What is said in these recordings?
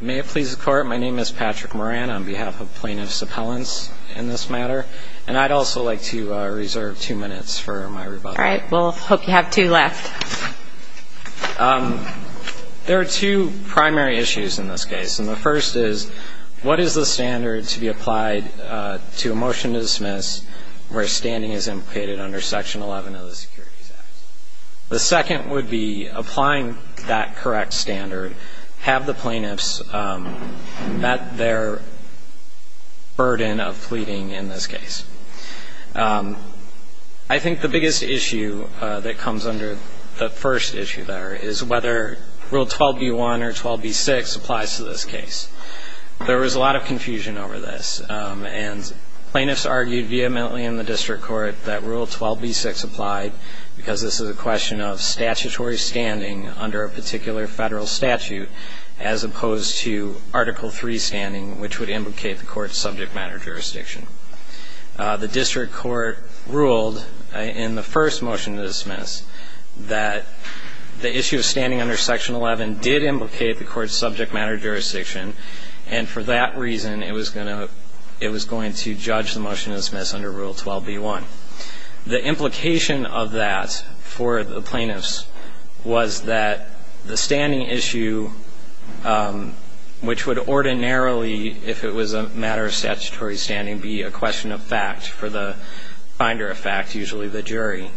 May it please the Court, my name is Patrick Moran on behalf of Plaintiff's Appellants in this matter and I'd also like to reserve two minutes for my rebuttal. Alright, well hope you have two left. There are two primary issues in this case and the first is what is the standard to be applied to a motion to dismiss where standing is implicated under Section 11 of the Securities Act? The second would be applying that correct standard have the plaintiffs met their burden of pleading in this case. I think the biggest issue that comes under the first issue there is whether Rule 12b-1 or 12b-6 applies to this case. There was a lot of confusion over this and plaintiffs argued vehemently in the District Court that Rule 12b-6 applied because this is a question of statutory standing under a particular federal statute as opposed to Article 3 standing which would implicate the court's subject matter jurisdiction. The District Court ruled in the first motion to dismiss that the issue of standing under Section 11 did implicate the court's subject matter jurisdiction and for that reason it was going to judge the motion to dismiss under Rule 12b-1. The implication of that for the plaintiffs was that the standing issue which would ordinarily if it was a matter of statutory standing be a question of fact for the finder of fact, usually the jury,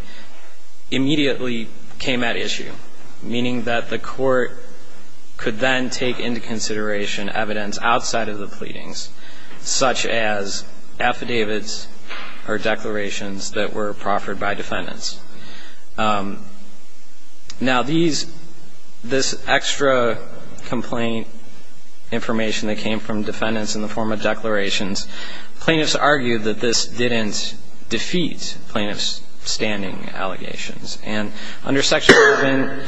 immediately came at issue meaning that the court could then take into consideration evidence outside of the pleadings such as affidavits or declarations that were proffered by defendants. Now these, this extra complaint information that came from defendants in the form of declarations, plaintiffs argued that this didn't defeat plaintiffs' standing allegations and under Section 11,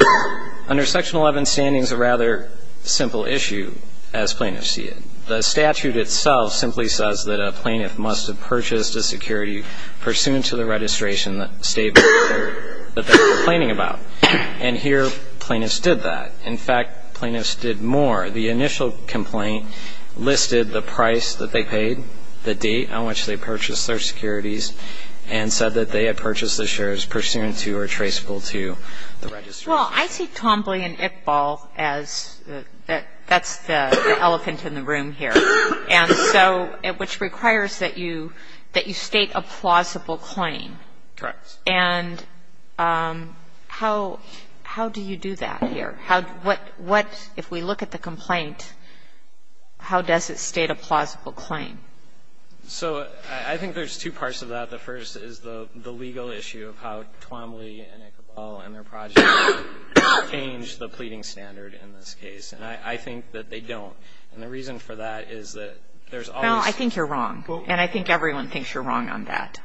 under Section 11 standing is a rather simple issue as plaintiffs see it. The statute itself simply says that a plaintiff must have purchased a security pursuant to the registration that stated that they were complaining about. And here plaintiffs did that. In fact, plaintiffs did more. The initial complaint listed the price that they paid, the date on which they purchased their securities and said that they had purchased the shares pursuant to or traceable to the registration. Sotomayor, I see Twombly and Iqbal as, that's the elephant in the room here. And so, which requires that you state a plausible claim. Correct. And how do you do that here? What, if we look at the complaint, how does it state a plausible claim? So I think there's two parts of that. The first is the legal issue of how Twombly and Iqbal and their project change the pleading standard in this case. And I think that they don't. And the reason for that is that there's always. Well, I think you're wrong. And I think everyone thinks you're wrong on that.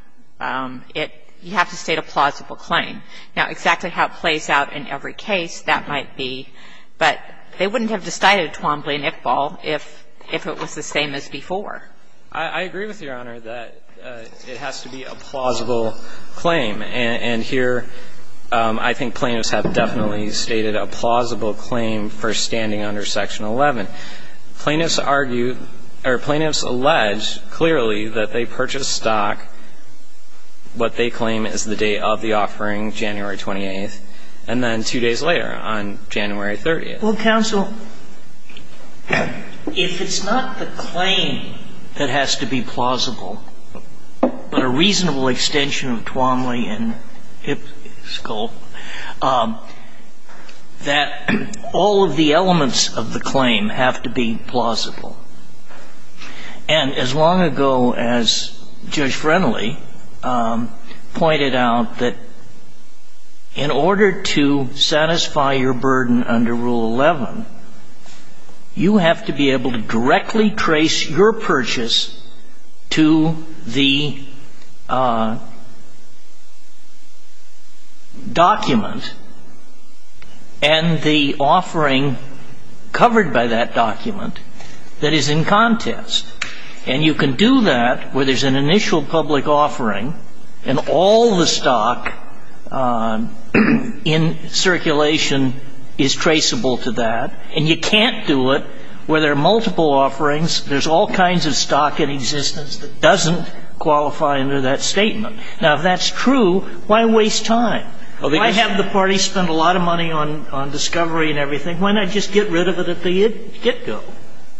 It, you have to state a plausible claim. Now, exactly how it plays out in every case, that might be. But they wouldn't have decided Twombly and Iqbal if it was the same as before. I agree with Your Honor that it has to be a plausible claim. And here, I think plaintiffs have definitely stated a plausible claim for standing under Section 11. Plaintiffs argue, or plaintiffs allege clearly that they purchased stock what they claim is the date of the offering, January 28th, and then two days later on January 30th. Well, counsel, if it's not the claim that has to be plausible, but a reasonable extension of Twombly and Iqbal, that all of the elements of the claim have to be plausible. And as long ago as Judge Friendly pointed out that in order to satisfy your claim under Section 11, you have to be able to directly trace your purchase to the document and the offering covered by that document that is in contest. And you can do that where there's an initial public offering and all the stock in circulation is traceable to that. And you can't do it where there are multiple offerings. There's all kinds of stock in existence that doesn't qualify under that statement. Now, if that's true, why waste time? Why have the party spend a lot of money on discovery and everything? Why not just get rid of it at the get-go?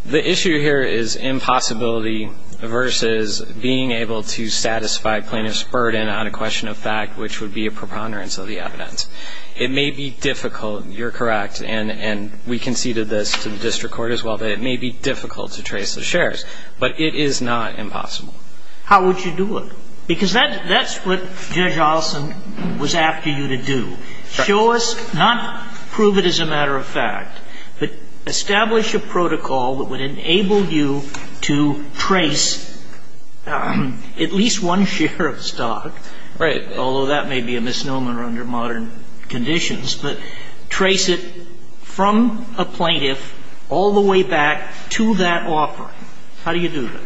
The issue here is impossibility versus being able to satisfy plaintiff's burden on a You can't trace the shares, but you can trace the stock. And you can't trace a conditional condition of fact, which would be a preponderance of the evidence. It may be difficult. You're correct. And we conceded this to the district court as well, that it may be difficult to trace the shares. But it is not impossible. How would you do it? Because that's what Judge Olson was after you to do. Show us, not prove it as a matter of fact, but establish a protocol that would enable you to trace at least one share of stock, although that may be a misnomer under modern conditions, but trace it from a plaintiff all the way back to that offering. How do you do that?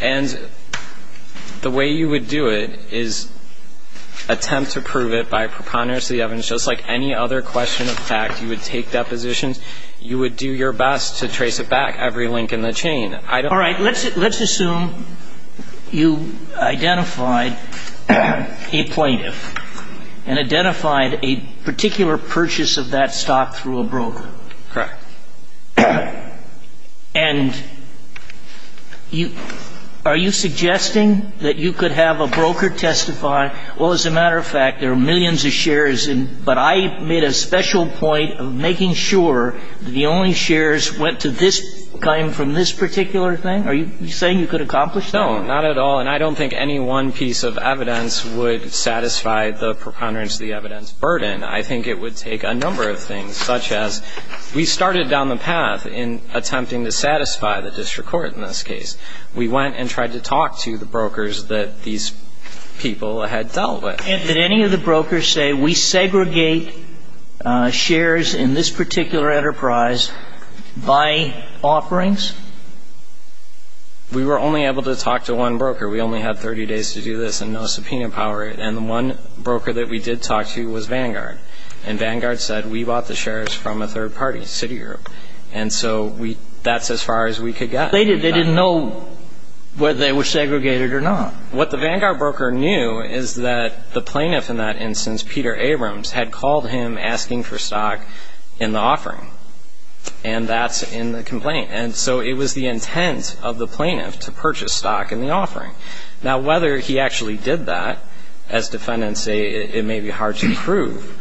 And the way you would do it is attempt to prove it by preponderance of the evidence just like any other question of fact. You would take depositions. You would do your best to trace it back, every link in the chain. All right. Let's assume you identified a plaintiff and identified a particular purchase of that stock through a broker. Correct. And are you suggesting that you could have a broker testify, well, as a matter of fact, there are millions of shares, but I made a special point of making sure that the only shares went to this claim from this particular thing? Are you saying you could accomplish that? No, not at all. And I don't think any one piece of evidence would satisfy the preponderance of the evidence burden. I think it would take a number of things, such as we started down the path in attempting to satisfy the district court in this case. We went and tried to talk to the brokers that these people had dealt with. Did any of the brokers say, we segregate shares in this particular enterprise by offerings? We were only able to talk to one broker. We only had 30 days to do this and no subpoena power. And the one broker that we did talk to was Vanguard. And Vanguard said, we bought the shares from a third party, Citigroup. And so that's as far as we could get. They didn't know whether they were segregated or not. What the Vanguard broker knew is that the plaintiff in that instance, Peter Abrams, had called him asking for stock in the offering. And that's in the complaint. And so it was the intent of the plaintiff to purchase stock in the offering. Now, whether he actually did that, as defendants say, it may be hard to prove.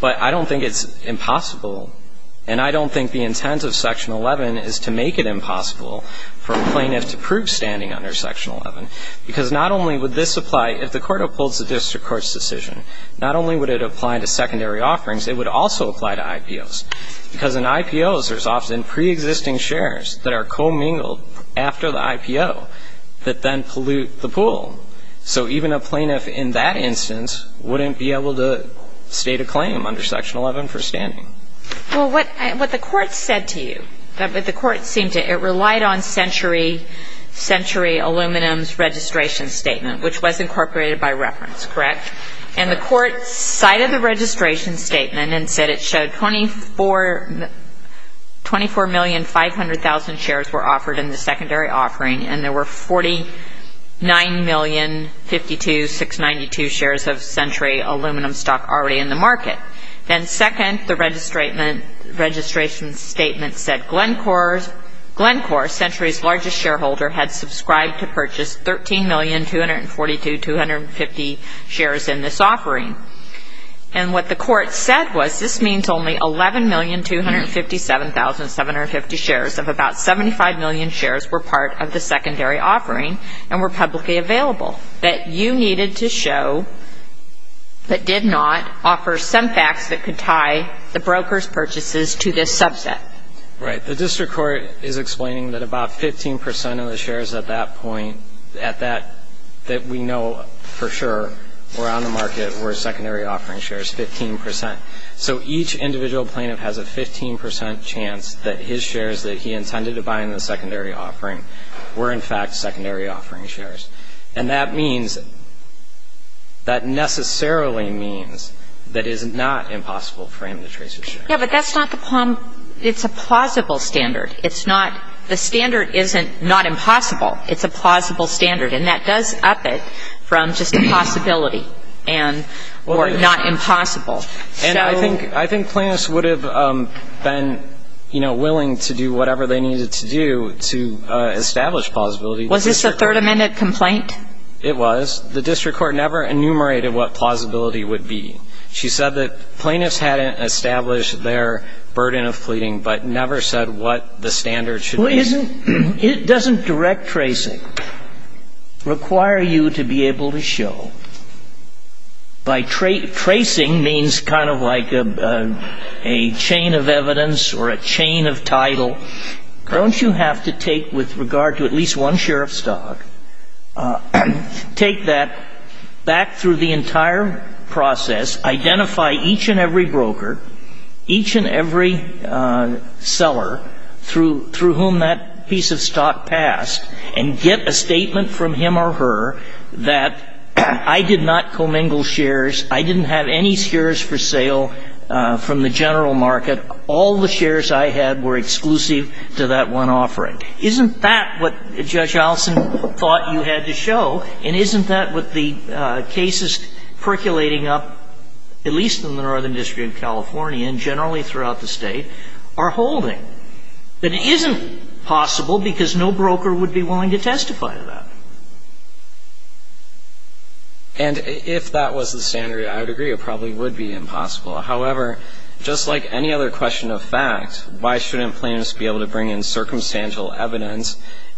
But I don't think it's impossible. And I don't think the intent of Section 11 is to make it impossible for a plaintiff to prove standing under Section 11. Because not only would this apply if the court upholds the district court's decision, not only would it apply to secondary offerings, it would also apply to IPOs. Because in IPOs, there's often preexisting shares that are co-mingled after the IPO that then pollute the pool. So even a plaintiff in that instance wouldn't be able to state a claim under Section 11 for standing. Well, what the court said to you, it relied on Century Aluminum's registration statement, which was incorporated by reference, correct? And the court cited the registration statement and said it showed 24,500,000 shares were offered in the secondary offering, and there were 49,052,692 shares of Century Aluminum stock already in the market. Then second, the registration statement said Glencore, Century's largest shareholder, had subscribed to purchase 13,242,250 shares in this offering. And what the court said was this means only 11,257,750 shares of about 75 million shares were part of the secondary offering and were publicly available, that you needed to show but did not offer some facts that could tie the broker's purchases to this subset. Right. The district court is explaining that about 15% of the shares at that point, that we know for sure were on the market, were secondary offering shares, 15%. So each individual plaintiff has a 15% chance that his shares that he intended to buy in the secondary offering were, in fact, secondary offering shares. And that means that necessarily means that it is not impossible for him to trace his shares. Yeah, but that's not the problem. It's a plausible standard. It's not the standard isn't not impossible. It's a plausible standard, and that does up it from just a possibility and or not impossible. And I think plaintiffs would have been, you know, willing to do whatever they needed to do to establish plausibility. Was this a Third Amendment complaint? It was. The district court never enumerated what plausibility would be. She said that plaintiffs hadn't established their burden of pleading but never said what the standard should be. It doesn't direct tracing, require you to be able to show. By tracing means kind of like a chain of evidence or a chain of title. Don't you have to take with regard to at least one share of stock, take that back through the entire process, identify each and every broker, each and every seller through whom that piece of stock passed, and get a statement from him or her that I did not commingle shares, I didn't have any shares for sale from the general market, all the shares I had were exclusive to that one offering. Isn't that what Judge Allison thought you had to show? And isn't that what the cases percolating up, at least in the northern district of California and generally throughout the State, are holding? That it isn't possible because no broker would be willing to testify to that. And if that was the standard, I would agree it probably would be impossible. However, just like any other question of fact, why shouldn't plaintiffs be able to bring in circumstantial evidence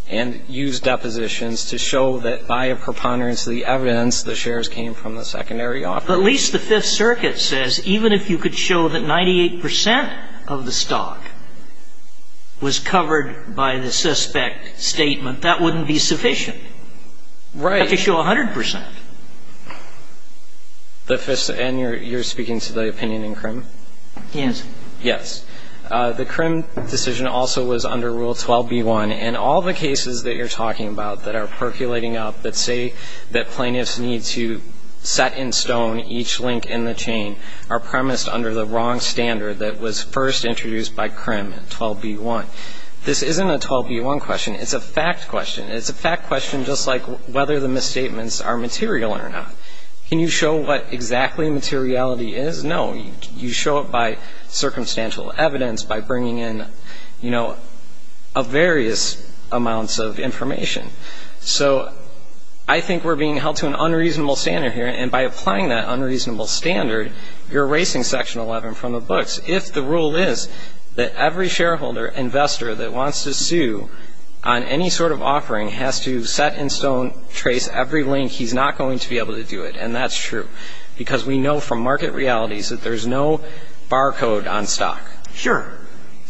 and use depositions to show that by a preponderance of the evidence, the shares came from the secondary offer? But at least the Fifth Circuit says even if you could show that 98% of the stock was covered by the suspect statement, that wouldn't be sufficient. Right. You have to show 100%. And you're speaking to the opinion in CRIM? Yes. Yes. The CRIM decision also was under Rule 12b-1, and all the cases that you're talking about that are percolating up that say that plaintiffs need to set in stone each link in the chain are premised under the wrong standard that was first introduced by CRIM in 12b-1. This isn't a 12b-1 question. It's a fact question. It's a fact question just like whether the misstatements are material or not. Can you show what exactly materiality is? No. You show it by circumstantial evidence, by bringing in, you know, various amounts of information. So I think we're being held to an unreasonable standard here, and by applying that unreasonable standard, you're erasing Section 11 from the books. If the rule is that every shareholder, investor that wants to sue on any sort of offering, has to set in stone, trace every link, he's not going to be able to do it. And that's true, because we know from market realities that there's no barcode on stock. Sure.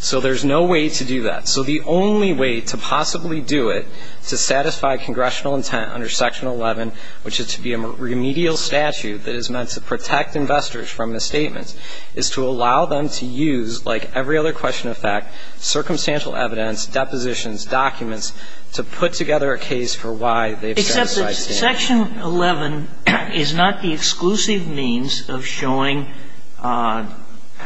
So there's no way to do that. So the only way to possibly do it to satisfy congressional intent under Section 11, which is to be a remedial statute that is meant to protect investors from misstatements, is to allow them to use, like every other question of fact, circumstantial evidence, depositions, documents to put together a case for why they've set aside standards. Except that Section 11 is not the exclusive means of showing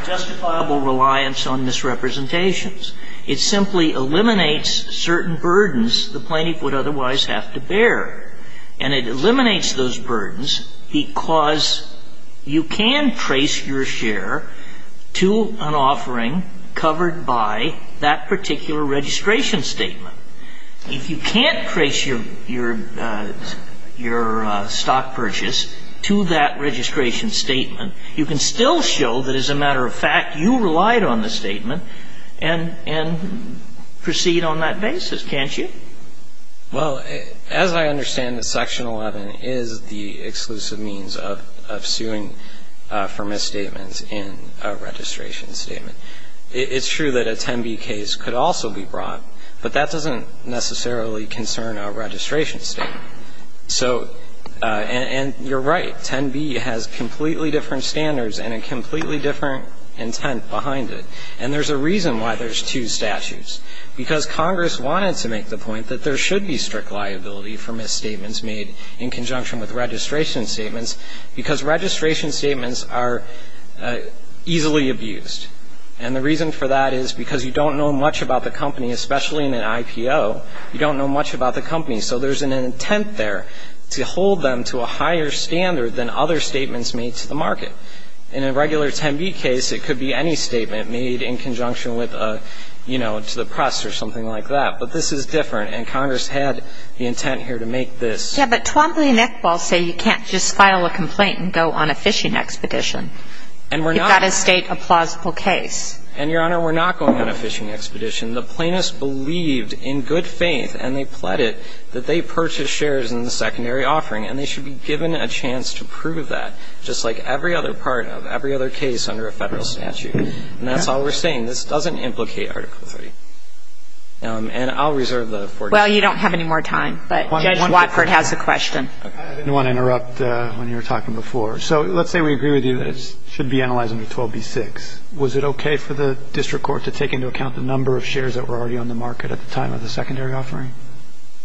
justifiable reliance on misrepresentations. It simply eliminates certain burdens the plaintiff would otherwise have to bear. And it eliminates those burdens because you can trace your share to an offering covered by that particular registration statement. If you can't trace your stock purchase to that registration statement, you can still show that, as a matter of fact, you relied on the statement and proceed on that basis, can't you? Well, as I understand it, Section 11 is the exclusive means of suing for misstatements in a registration statement. It's true that a 10b case could also be brought, but that doesn't necessarily concern a registration statement. And you're right, 10b has completely different standards and a completely different intent behind it. And there's a reason why there's two statutes, because Congress wanted to make the point that there should be strict liability for misstatements made in conjunction with registration statements, because registration statements are easily abused. And the reason for that is because you don't know much about the company, especially in an IPO. You don't know much about the company, so there's an intent there to hold them to a higher standard than other statements made to the market. In a regular 10b case, it could be any statement made in conjunction with a, you know, to the press or something like that. But this is different, and Congress had the intent here to make this. Yeah, but Twombly and Eckball say you can't just file a complaint and go on a fishing expedition. And we're not. You've got to state a plausible case. And, Your Honor, we're not going on a fishing expedition. The plaintiffs believed in good faith, and they pled it, that they purchased shares in the secondary offering, and they should be given a chance to prove that, just like every other part of every other case under a federal statute. And that's all we're saying. This doesn't implicate Article III. And I'll reserve the floor to you. Well, you don't have any more time, but Judge Watford has a question. I didn't want to interrupt when you were talking before. So let's say we agree with you that it should be analyzed under 12b-6. Was it okay for the district court to take into account the number of shares that were already on the market at the time of the secondary offering?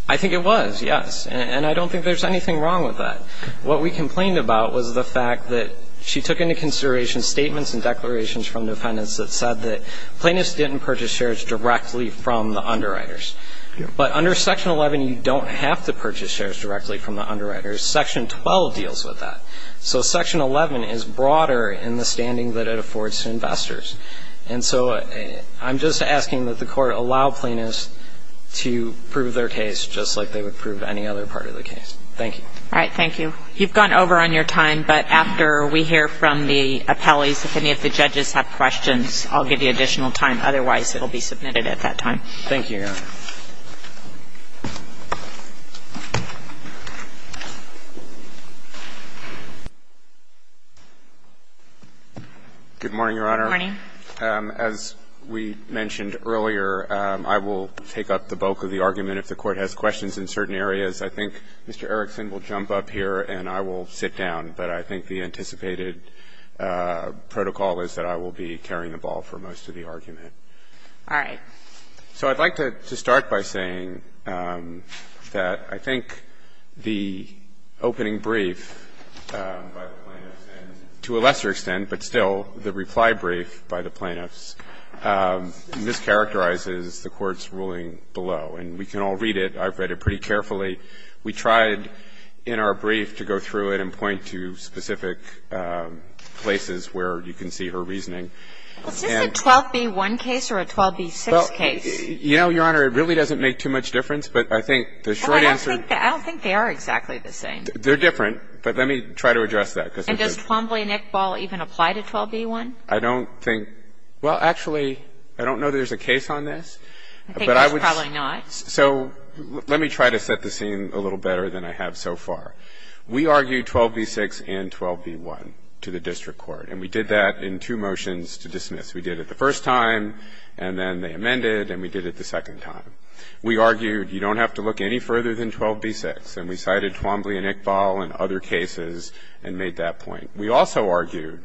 I think it was, yes. And I don't think there's anything wrong with that. What we complained about was the fact that she took into consideration statements and declarations from defendants that said that plaintiffs didn't purchase shares directly from the underwriters. But under Section 11, you don't have to purchase shares directly from the underwriters. Section 12 deals with that. So Section 11 is broader in the standing that it affords to investors. And so I'm just asking that the Court allow plaintiffs to prove their case just like they would prove any other part of the case. Thank you. All right. Thank you. You've gone over on your time, but after we hear from the appellees, if any of the judges have questions, I'll give you additional time. Otherwise, it will be submitted at that time. Thank you, Your Honor. Good morning, Your Honor. Good morning. As we mentioned earlier, I will take up the bulk of the argument. If the Court has questions in certain areas, I think Mr. Erickson will jump up here and I will sit down. But I think the anticipated protocol is that I will be carrying the ball for most of the argument. All right. So I'd like to start by saying that I think the opening brief by the plaintiffs to a lesser extent, but still the reply brief by the plaintiffs, mischaracterizes the Court's ruling below. And we can all read it. I've read it pretty carefully. We tried in our brief to go through it and point to specific places where you can see her reasoning. Well, is this a 12b-1 case or a 12b-6 case? Well, you know, Your Honor, it really doesn't make too much difference, but I think the short answer is the same. I don't think they are exactly the same. They're different, but let me try to address that. And does Twombly and Iqbal even apply to 12b-1? I don't think – well, actually, I don't know that there's a case on this. I think there's probably not. So let me try to set the scene a little better than I have so far. We argued 12b-6 and 12b-1 to the district court, and we did that in two motions to dismiss. We did it the first time, and then they amended, and we did it the second time. We argued you don't have to look any further than 12b-6, and we cited Twombly and Iqbal and other cases and made that point. We also argued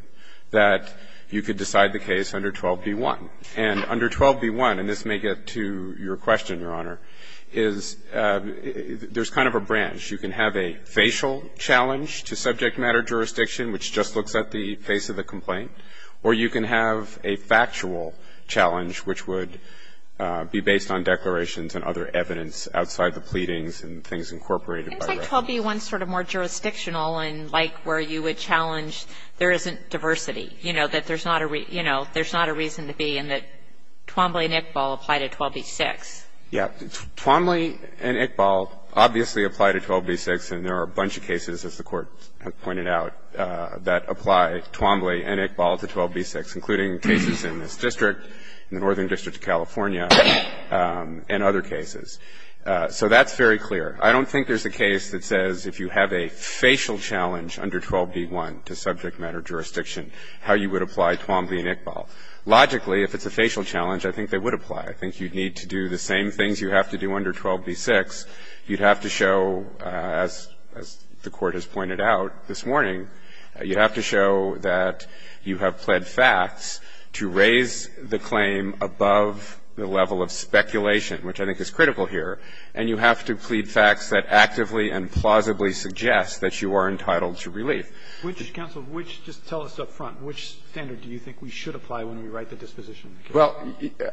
that you could decide the case under 12b-1. And under 12b-1, and this may get to your question, Your Honor, is there's kind of a branch. You can have a facial challenge to subject matter jurisdiction, which just looks at the face of the complaint, or you can have a factual challenge, which would be based on declarations and other evidence outside the pleadings and things incorporated. It seems like 12b-1 is sort of more jurisdictional and like where you would challenge there isn't diversity, you know, that there's not a reason to be and that Twombly and Iqbal apply to 12b-6. Yeah. Twombly and Iqbal obviously apply to 12b-6, and there are a bunch of cases, as the Court has pointed out, that apply, Twombly and Iqbal to 12b-6, including cases in this district, in the Northern District of California, and other cases. So that's very clear. I don't think there's a case that says if you have a facial challenge under 12b-1 to subject matter jurisdiction, how you would apply Twombly and Iqbal. Logically, if it's a facial challenge, I think they would apply. I think you'd need to do the same things you have to do under 12b-6. You'd have to show, as the Court has pointed out this morning, you'd have to show that you have pled facts to raise the claim above the level of speculation, which I think is critical here. And you have to plead facts that actively and plausibly suggest that you are entitled to relief. Roberts, just tell us up front. Which standard do you think we should apply when we write the disposition? Well,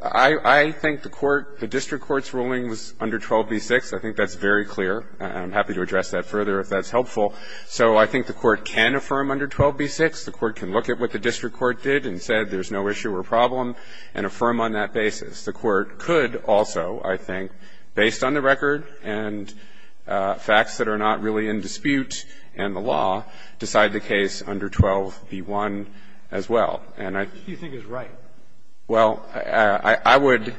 I think the court, the district court's ruling was under 12b-6. I think that's very clear. I'm happy to address that further if that's helpful. So I think the Court can affirm under 12b-6. The Court can look at what the district court did and said there's no issue or problem and affirm on that basis. The Court could also, I think, based on the record and facts that are not really in dispute and the law, decide the case under 12b-1 as well. What do you think is right? Well, I would,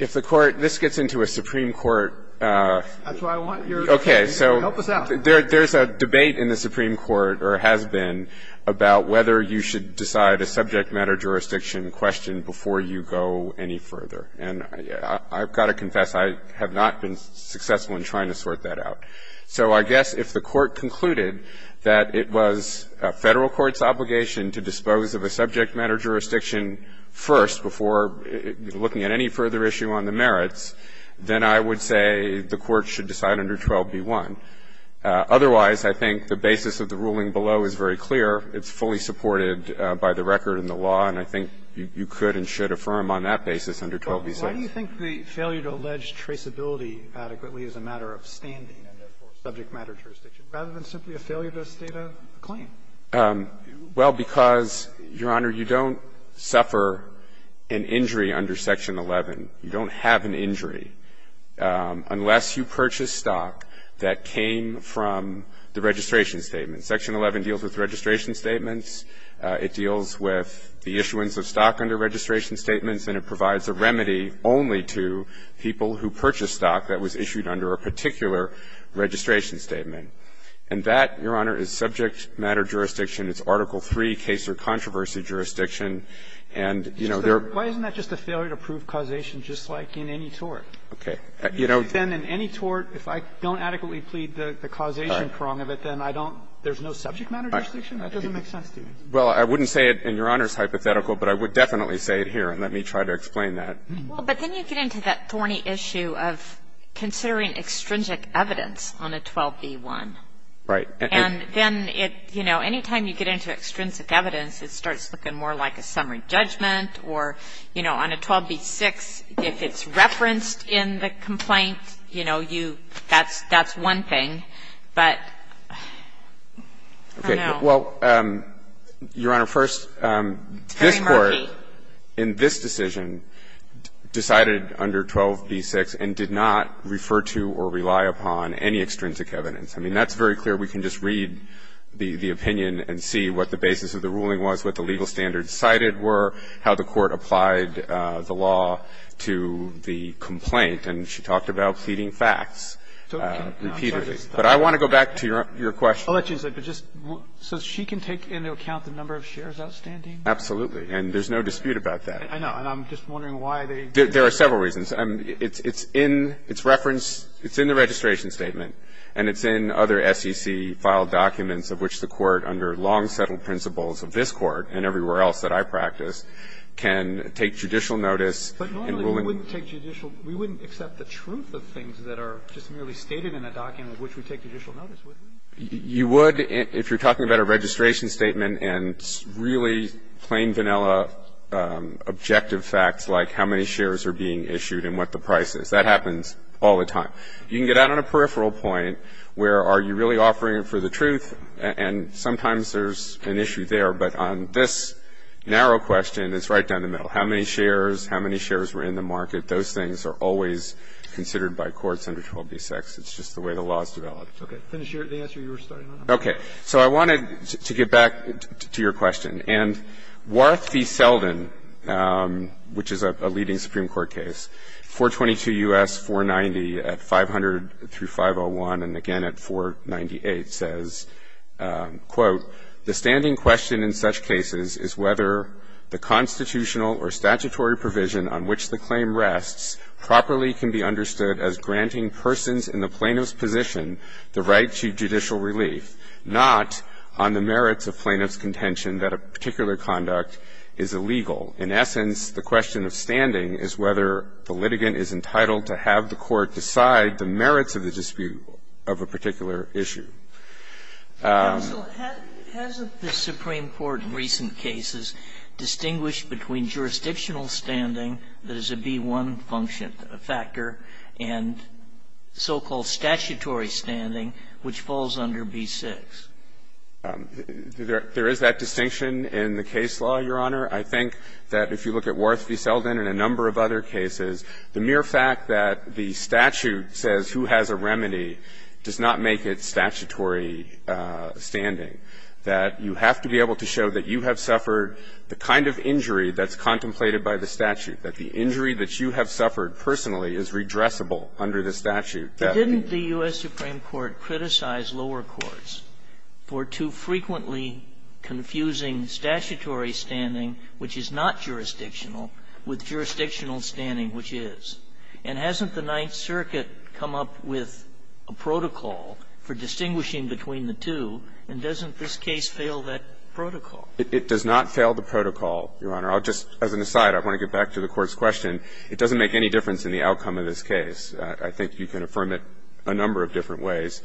if the Court, this gets into a Supreme Court. That's why I want your help. Help us out. There's a debate in the Supreme Court, or has been, about whether you should decide a subject matter jurisdiction question before you go any further. And I've got to confess I have not been successful in trying to sort that out. So I guess if the Court concluded that it was a Federal court's obligation to dispose of a subject matter jurisdiction first before looking at any further issue on the merits, then I would say the Court should decide under 12b-1. Otherwise, I think the basis of the ruling below is very clear. It's fully supported by the record and the law, and I think you could and should affirm on that basis under 12b-6. Why do you think the failure to allege traceability adequately is a matter of standing a subject matter jurisdiction, rather than simply a failure to state a claim? Well, because, Your Honor, you don't suffer an injury under Section 11. You don't have an injury unless you purchase stock that came from the registration statement. Section 11 deals with registration statements. It deals with the issuance of stock under registration statements, and it provides a remedy only to people who purchase stock that was issued under a particular registration statement. And that, Your Honor, is subject matter jurisdiction. It's Article III case or controversy jurisdiction. And, you know, there are ---- Why isn't that just a failure to prove causation, just like in any tort? Okay. You know ---- Then in any tort, if I don't adequately plead the causation prong of it, then I don't ---- There's no subject matter jurisdiction? That doesn't make sense to me. Well, I wouldn't say it in Your Honor's hypothetical, but I would definitely say it here, and let me try to explain that. But then you get into that thorny issue of considering extrinsic evidence on a 12b-1. Right. And then it, you know, any time you get into extrinsic evidence, it starts looking more like a summary judgment or, you know, on a 12b-6, if it's referenced in the complaint, you know, you ---- that's one thing. But I don't know. Okay. Well, Your Honor, first, this Court in this decision decided under 12b-6 and did not refer to or rely upon any extrinsic evidence. I mean, that's very clear. We can just read the opinion and see what the basis of the ruling was, what the legal standards cited were, how the Court applied the law to the complaint. And she talked about pleading facts repeatedly. But I want to go back to your question. I'll let you say, but just so she can take into account the number of shares outstanding? Absolutely. And there's no dispute about that. I know. And I'm just wondering why they did that. There are several reasons. It's in its reference, it's in the registration statement, and it's in other SEC-filed documents of which the Court, under long-settled principles of this Court and everywhere else that I practice, can take judicial notice in ruling. But normally, we wouldn't take judicial ---- we wouldn't accept the truth of things that are just merely stated in a document of which we take judicial notice, would we? You would if you're talking about a registration statement and really plain vanilla objective facts like how many shares are being issued and what the price is. That happens all the time. You can get out on a peripheral point where are you really offering for the truth, and sometimes there's an issue there. But on this narrow question, it's right down the middle. How many shares, how many shares were in the market, those things are always considered by courts under 12b-6. It's just the way the law is developed. Roberts. Okay. Finish the answer you were starting on. Okay. So I wanted to get back to your question. And Warth v. Selden, which is a leading Supreme Court case, 422 U.S. 490 at 500 through 501 and again at 498, says, quote, The standing question in such cases is whether the constitutional or statutory provision on which the claim rests properly can be understood as granting persons in the plaintiff's position the right to judicial relief, not on the merits of plaintiff's contention that a particular conduct is illegal. In essence, the question of standing is whether the litigant is entitled to have the court decide the merits of the dispute of a particular issue. Counsel, hasn't the Supreme Court in recent cases distinguished between jurisdictional standing that is a B-1 function factor and so-called statutory standing, which falls under B-6? There is that distinction in the case law, Your Honor. I think that if you look at Warth v. Selden and a number of other cases, the mere fact that the statute says who has a remedy does not make it statutory standing, that you have to be able to show that you have suffered the kind of injury that's contemplated by the statute, that the injury that you have suffered personally is redressable under the statute. Didn't the U.S. Supreme Court criticize lower courts for too frequently confusing statutory standing, which is not jurisdictional, with jurisdictional standing, which is? And hasn't the Ninth Circuit come up with a protocol for distinguishing between the two, and doesn't this case fail that protocol? It does not fail the protocol, Your Honor. I'll just, as an aside, I want to get back to the Court's question. It doesn't make any difference in the outcome of this case. I think you can affirm it a number of different ways,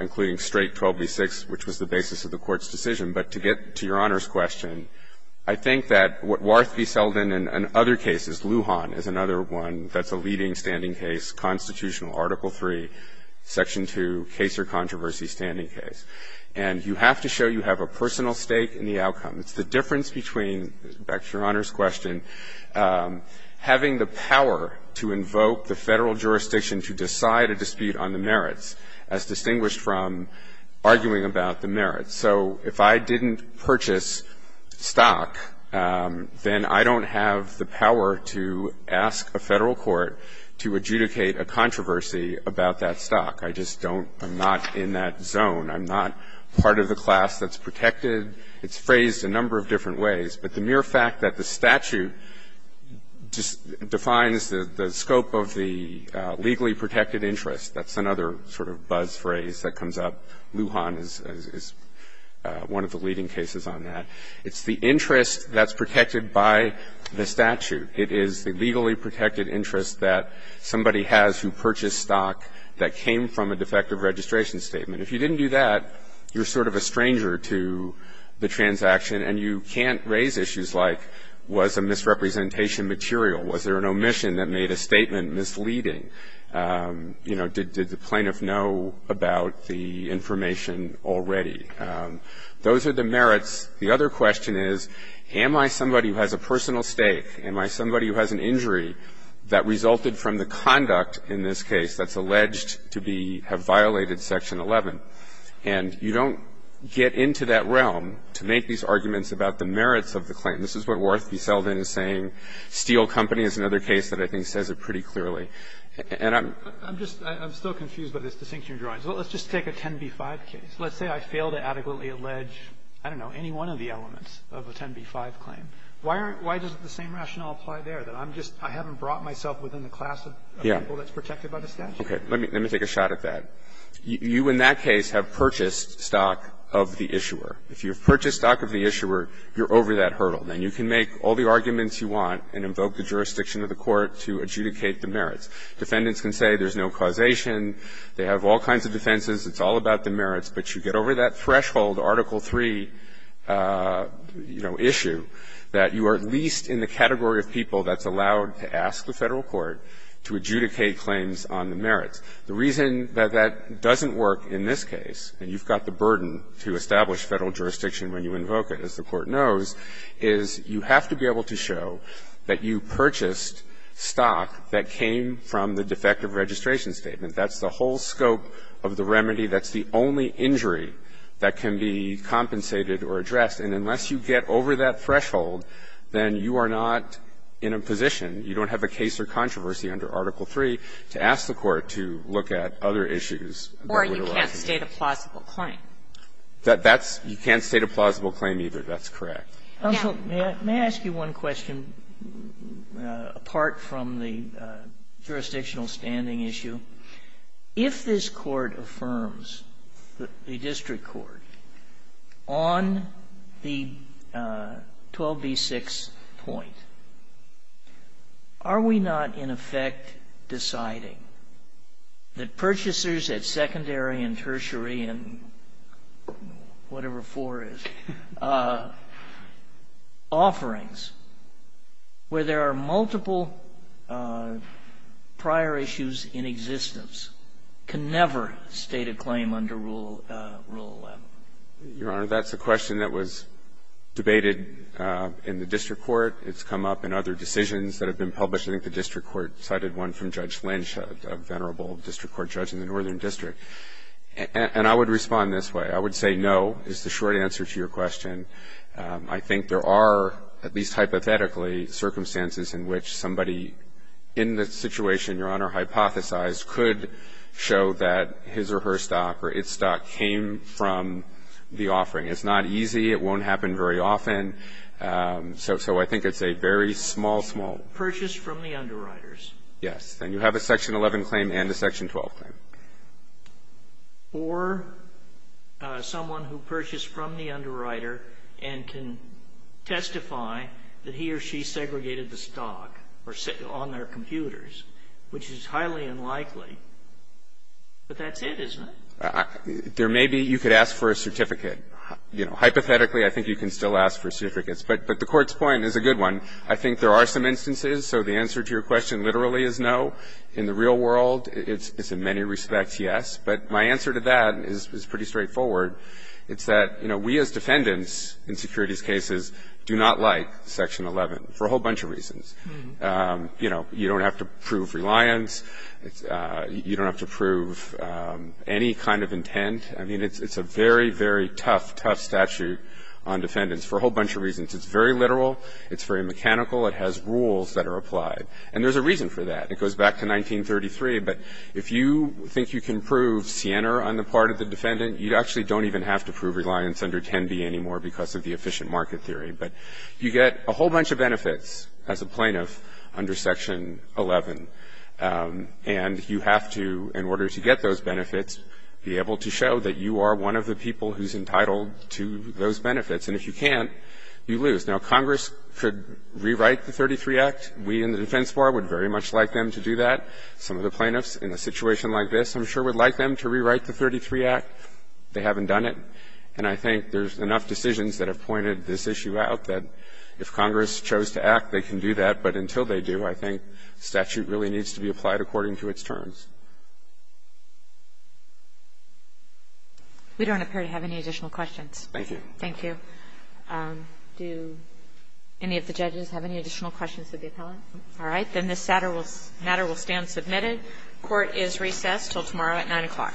including straight 12b-6, which was the basis of the Court's decision. But to get to Your Honor's question, I think that what Warth v. Selden and other cases, Lujan is another one that's a leading standing case, constitutional article 3, section 2, case or controversy standing case. And you have to show you have a personal stake in the outcome. It's the difference between, back to Your Honor's question, having the power to invoke the Federal jurisdiction to decide a dispute on the merits, as distinguished from arguing about the merits. So if I didn't purchase stock, then I don't have the power to ask a Federal court to adjudicate a controversy about that stock. I just don't – I'm not in that zone. I'm not part of the class that's protected. It's phrased a number of different ways. But the mere fact that the statute defines the scope of the legally protected interest, that's another sort of buzz phrase that comes up. Lujan is one of the leading cases on that. It's the interest that's protected by the statute. It is the legally protected interest that somebody has who purchased stock that came from a defective registration statement. If you didn't do that, you're sort of a stranger to the transaction. And you can't raise issues like, was a misrepresentation material? Was there an omission that made a statement misleading? You know, did the plaintiff know about the information already? Those are the merits. The other question is, am I somebody who has a personal stake? Am I somebody who has an injury that resulted from the conduct in this case that's alleged to be – have violated Section 11? And you don't get into that realm to make these arguments about the merits of the claim. This is what Worthy Selden is saying. Steele Company is another case that I think says it pretty clearly. And I'm – I'm just – I'm still confused by this distinction of drawings. Well, let's just take a 10b-5 case. Let's say I fail to adequately allege, I don't know, any one of the elements of a 10b-5 claim. Why aren't – why doesn't the same rationale apply there, that I'm just – I haven't brought myself within the class of people that's protected by the statute? Okay. Let me take a shot at that. You in that case have purchased stock of the issuer. If you've purchased stock of the issuer, you're over that hurdle. Then you can make all the arguments you want and invoke the jurisdiction of the court to adjudicate the merits. Defendants can say there's no causation, they have all kinds of defenses, it's all about the merits, but you get over that threshold, Article III, you know, issue. That you are at least in the category of people that's allowed to ask the Federal Court to adjudicate claims on the merits. The reason that that doesn't work in this case, and you've got the burden to establish Federal jurisdiction when you invoke it, as the Court knows, is you have to be able to show that you purchased stock that came from the defective registration statement. That's the whole scope of the remedy. That's the only injury that can be compensated or addressed. And unless you get over that threshold, then you are not in a position, you don't have a case or controversy under Article III, to ask the Court to look at other issues. Or you can't state a plausible claim. That's you can't state a plausible claim either. That's correct. Counsel, may I ask you one question apart from the jurisdictional standing issue? If this Court affirms, the district court, on the 12b-6 point, are we not, in effect, deciding that purchasers at secondary and tertiary and whatever 4 is, offerings where there are multiple prior issues in existence, can never state a claim under Rule 11? Your Honor, that's a question that was debated in the district court. It's come up in other decisions that have been published. I think the district court cited one from Judge Lynch, a venerable district court judge in the Northern District. And I would respond this way. I would say no is the short answer to your question. I think there are, at least hypothetically, circumstances in which somebody in the situation, Your Honor, hypothesized could show that his or her stock or its stock came from the offering. It's not easy. It won't happen very often. So I think it's a very small, small. Purchase from the underwriters. Yes. Then you have a Section 11 claim and a Section 12 claim. Or someone who purchased from the underwriter and can testify that he or she segregated the stock on their computers, which is highly unlikely. But that's it, isn't it? There may be you could ask for a certificate. You know, hypothetically, I think you can still ask for certificates. But the Court's point is a good one. I think there are some instances, so the answer to your question literally is no. In the real world, it's in many respects yes. But my answer to that is pretty straightforward. It's that, you know, we as defendants in securities cases do not like Section 11 for a whole bunch of reasons. You know, you don't have to prove reliance. You don't have to prove any kind of intent. I mean, it's a very, very tough, tough statute on defendants for a whole bunch of reasons. It's very literal. It's very mechanical. It has rules that are applied. And there's a reason for that. It goes back to 1933. But if you think you can prove Siena on the part of the defendant, you actually don't even have to prove reliance under 10B anymore because of the efficient market theory. But you get a whole bunch of benefits as a plaintiff under Section 11, and you have to, in order to get those benefits, be able to show that you are one of the people who's entitled to those benefits. And if you can't, you lose. Now, Congress could rewrite the 33 Act. We in the Defense Bar would very much like them to do that. Some of the plaintiffs in a situation like this, I'm sure, would like them to rewrite the 33 Act. They haven't done it. And I think there's enough decisions that have pointed this issue out that if Congress chose to act, they can do that. But until they do, I think statute really needs to be applied according to its terms. We don't appear to have any additional questions. Thank you. Thank you. Do any of the judges have any additional questions of the appellant? All right. Then this matter will stand submitted. Court is recessed until tomorrow at 9 o'clock.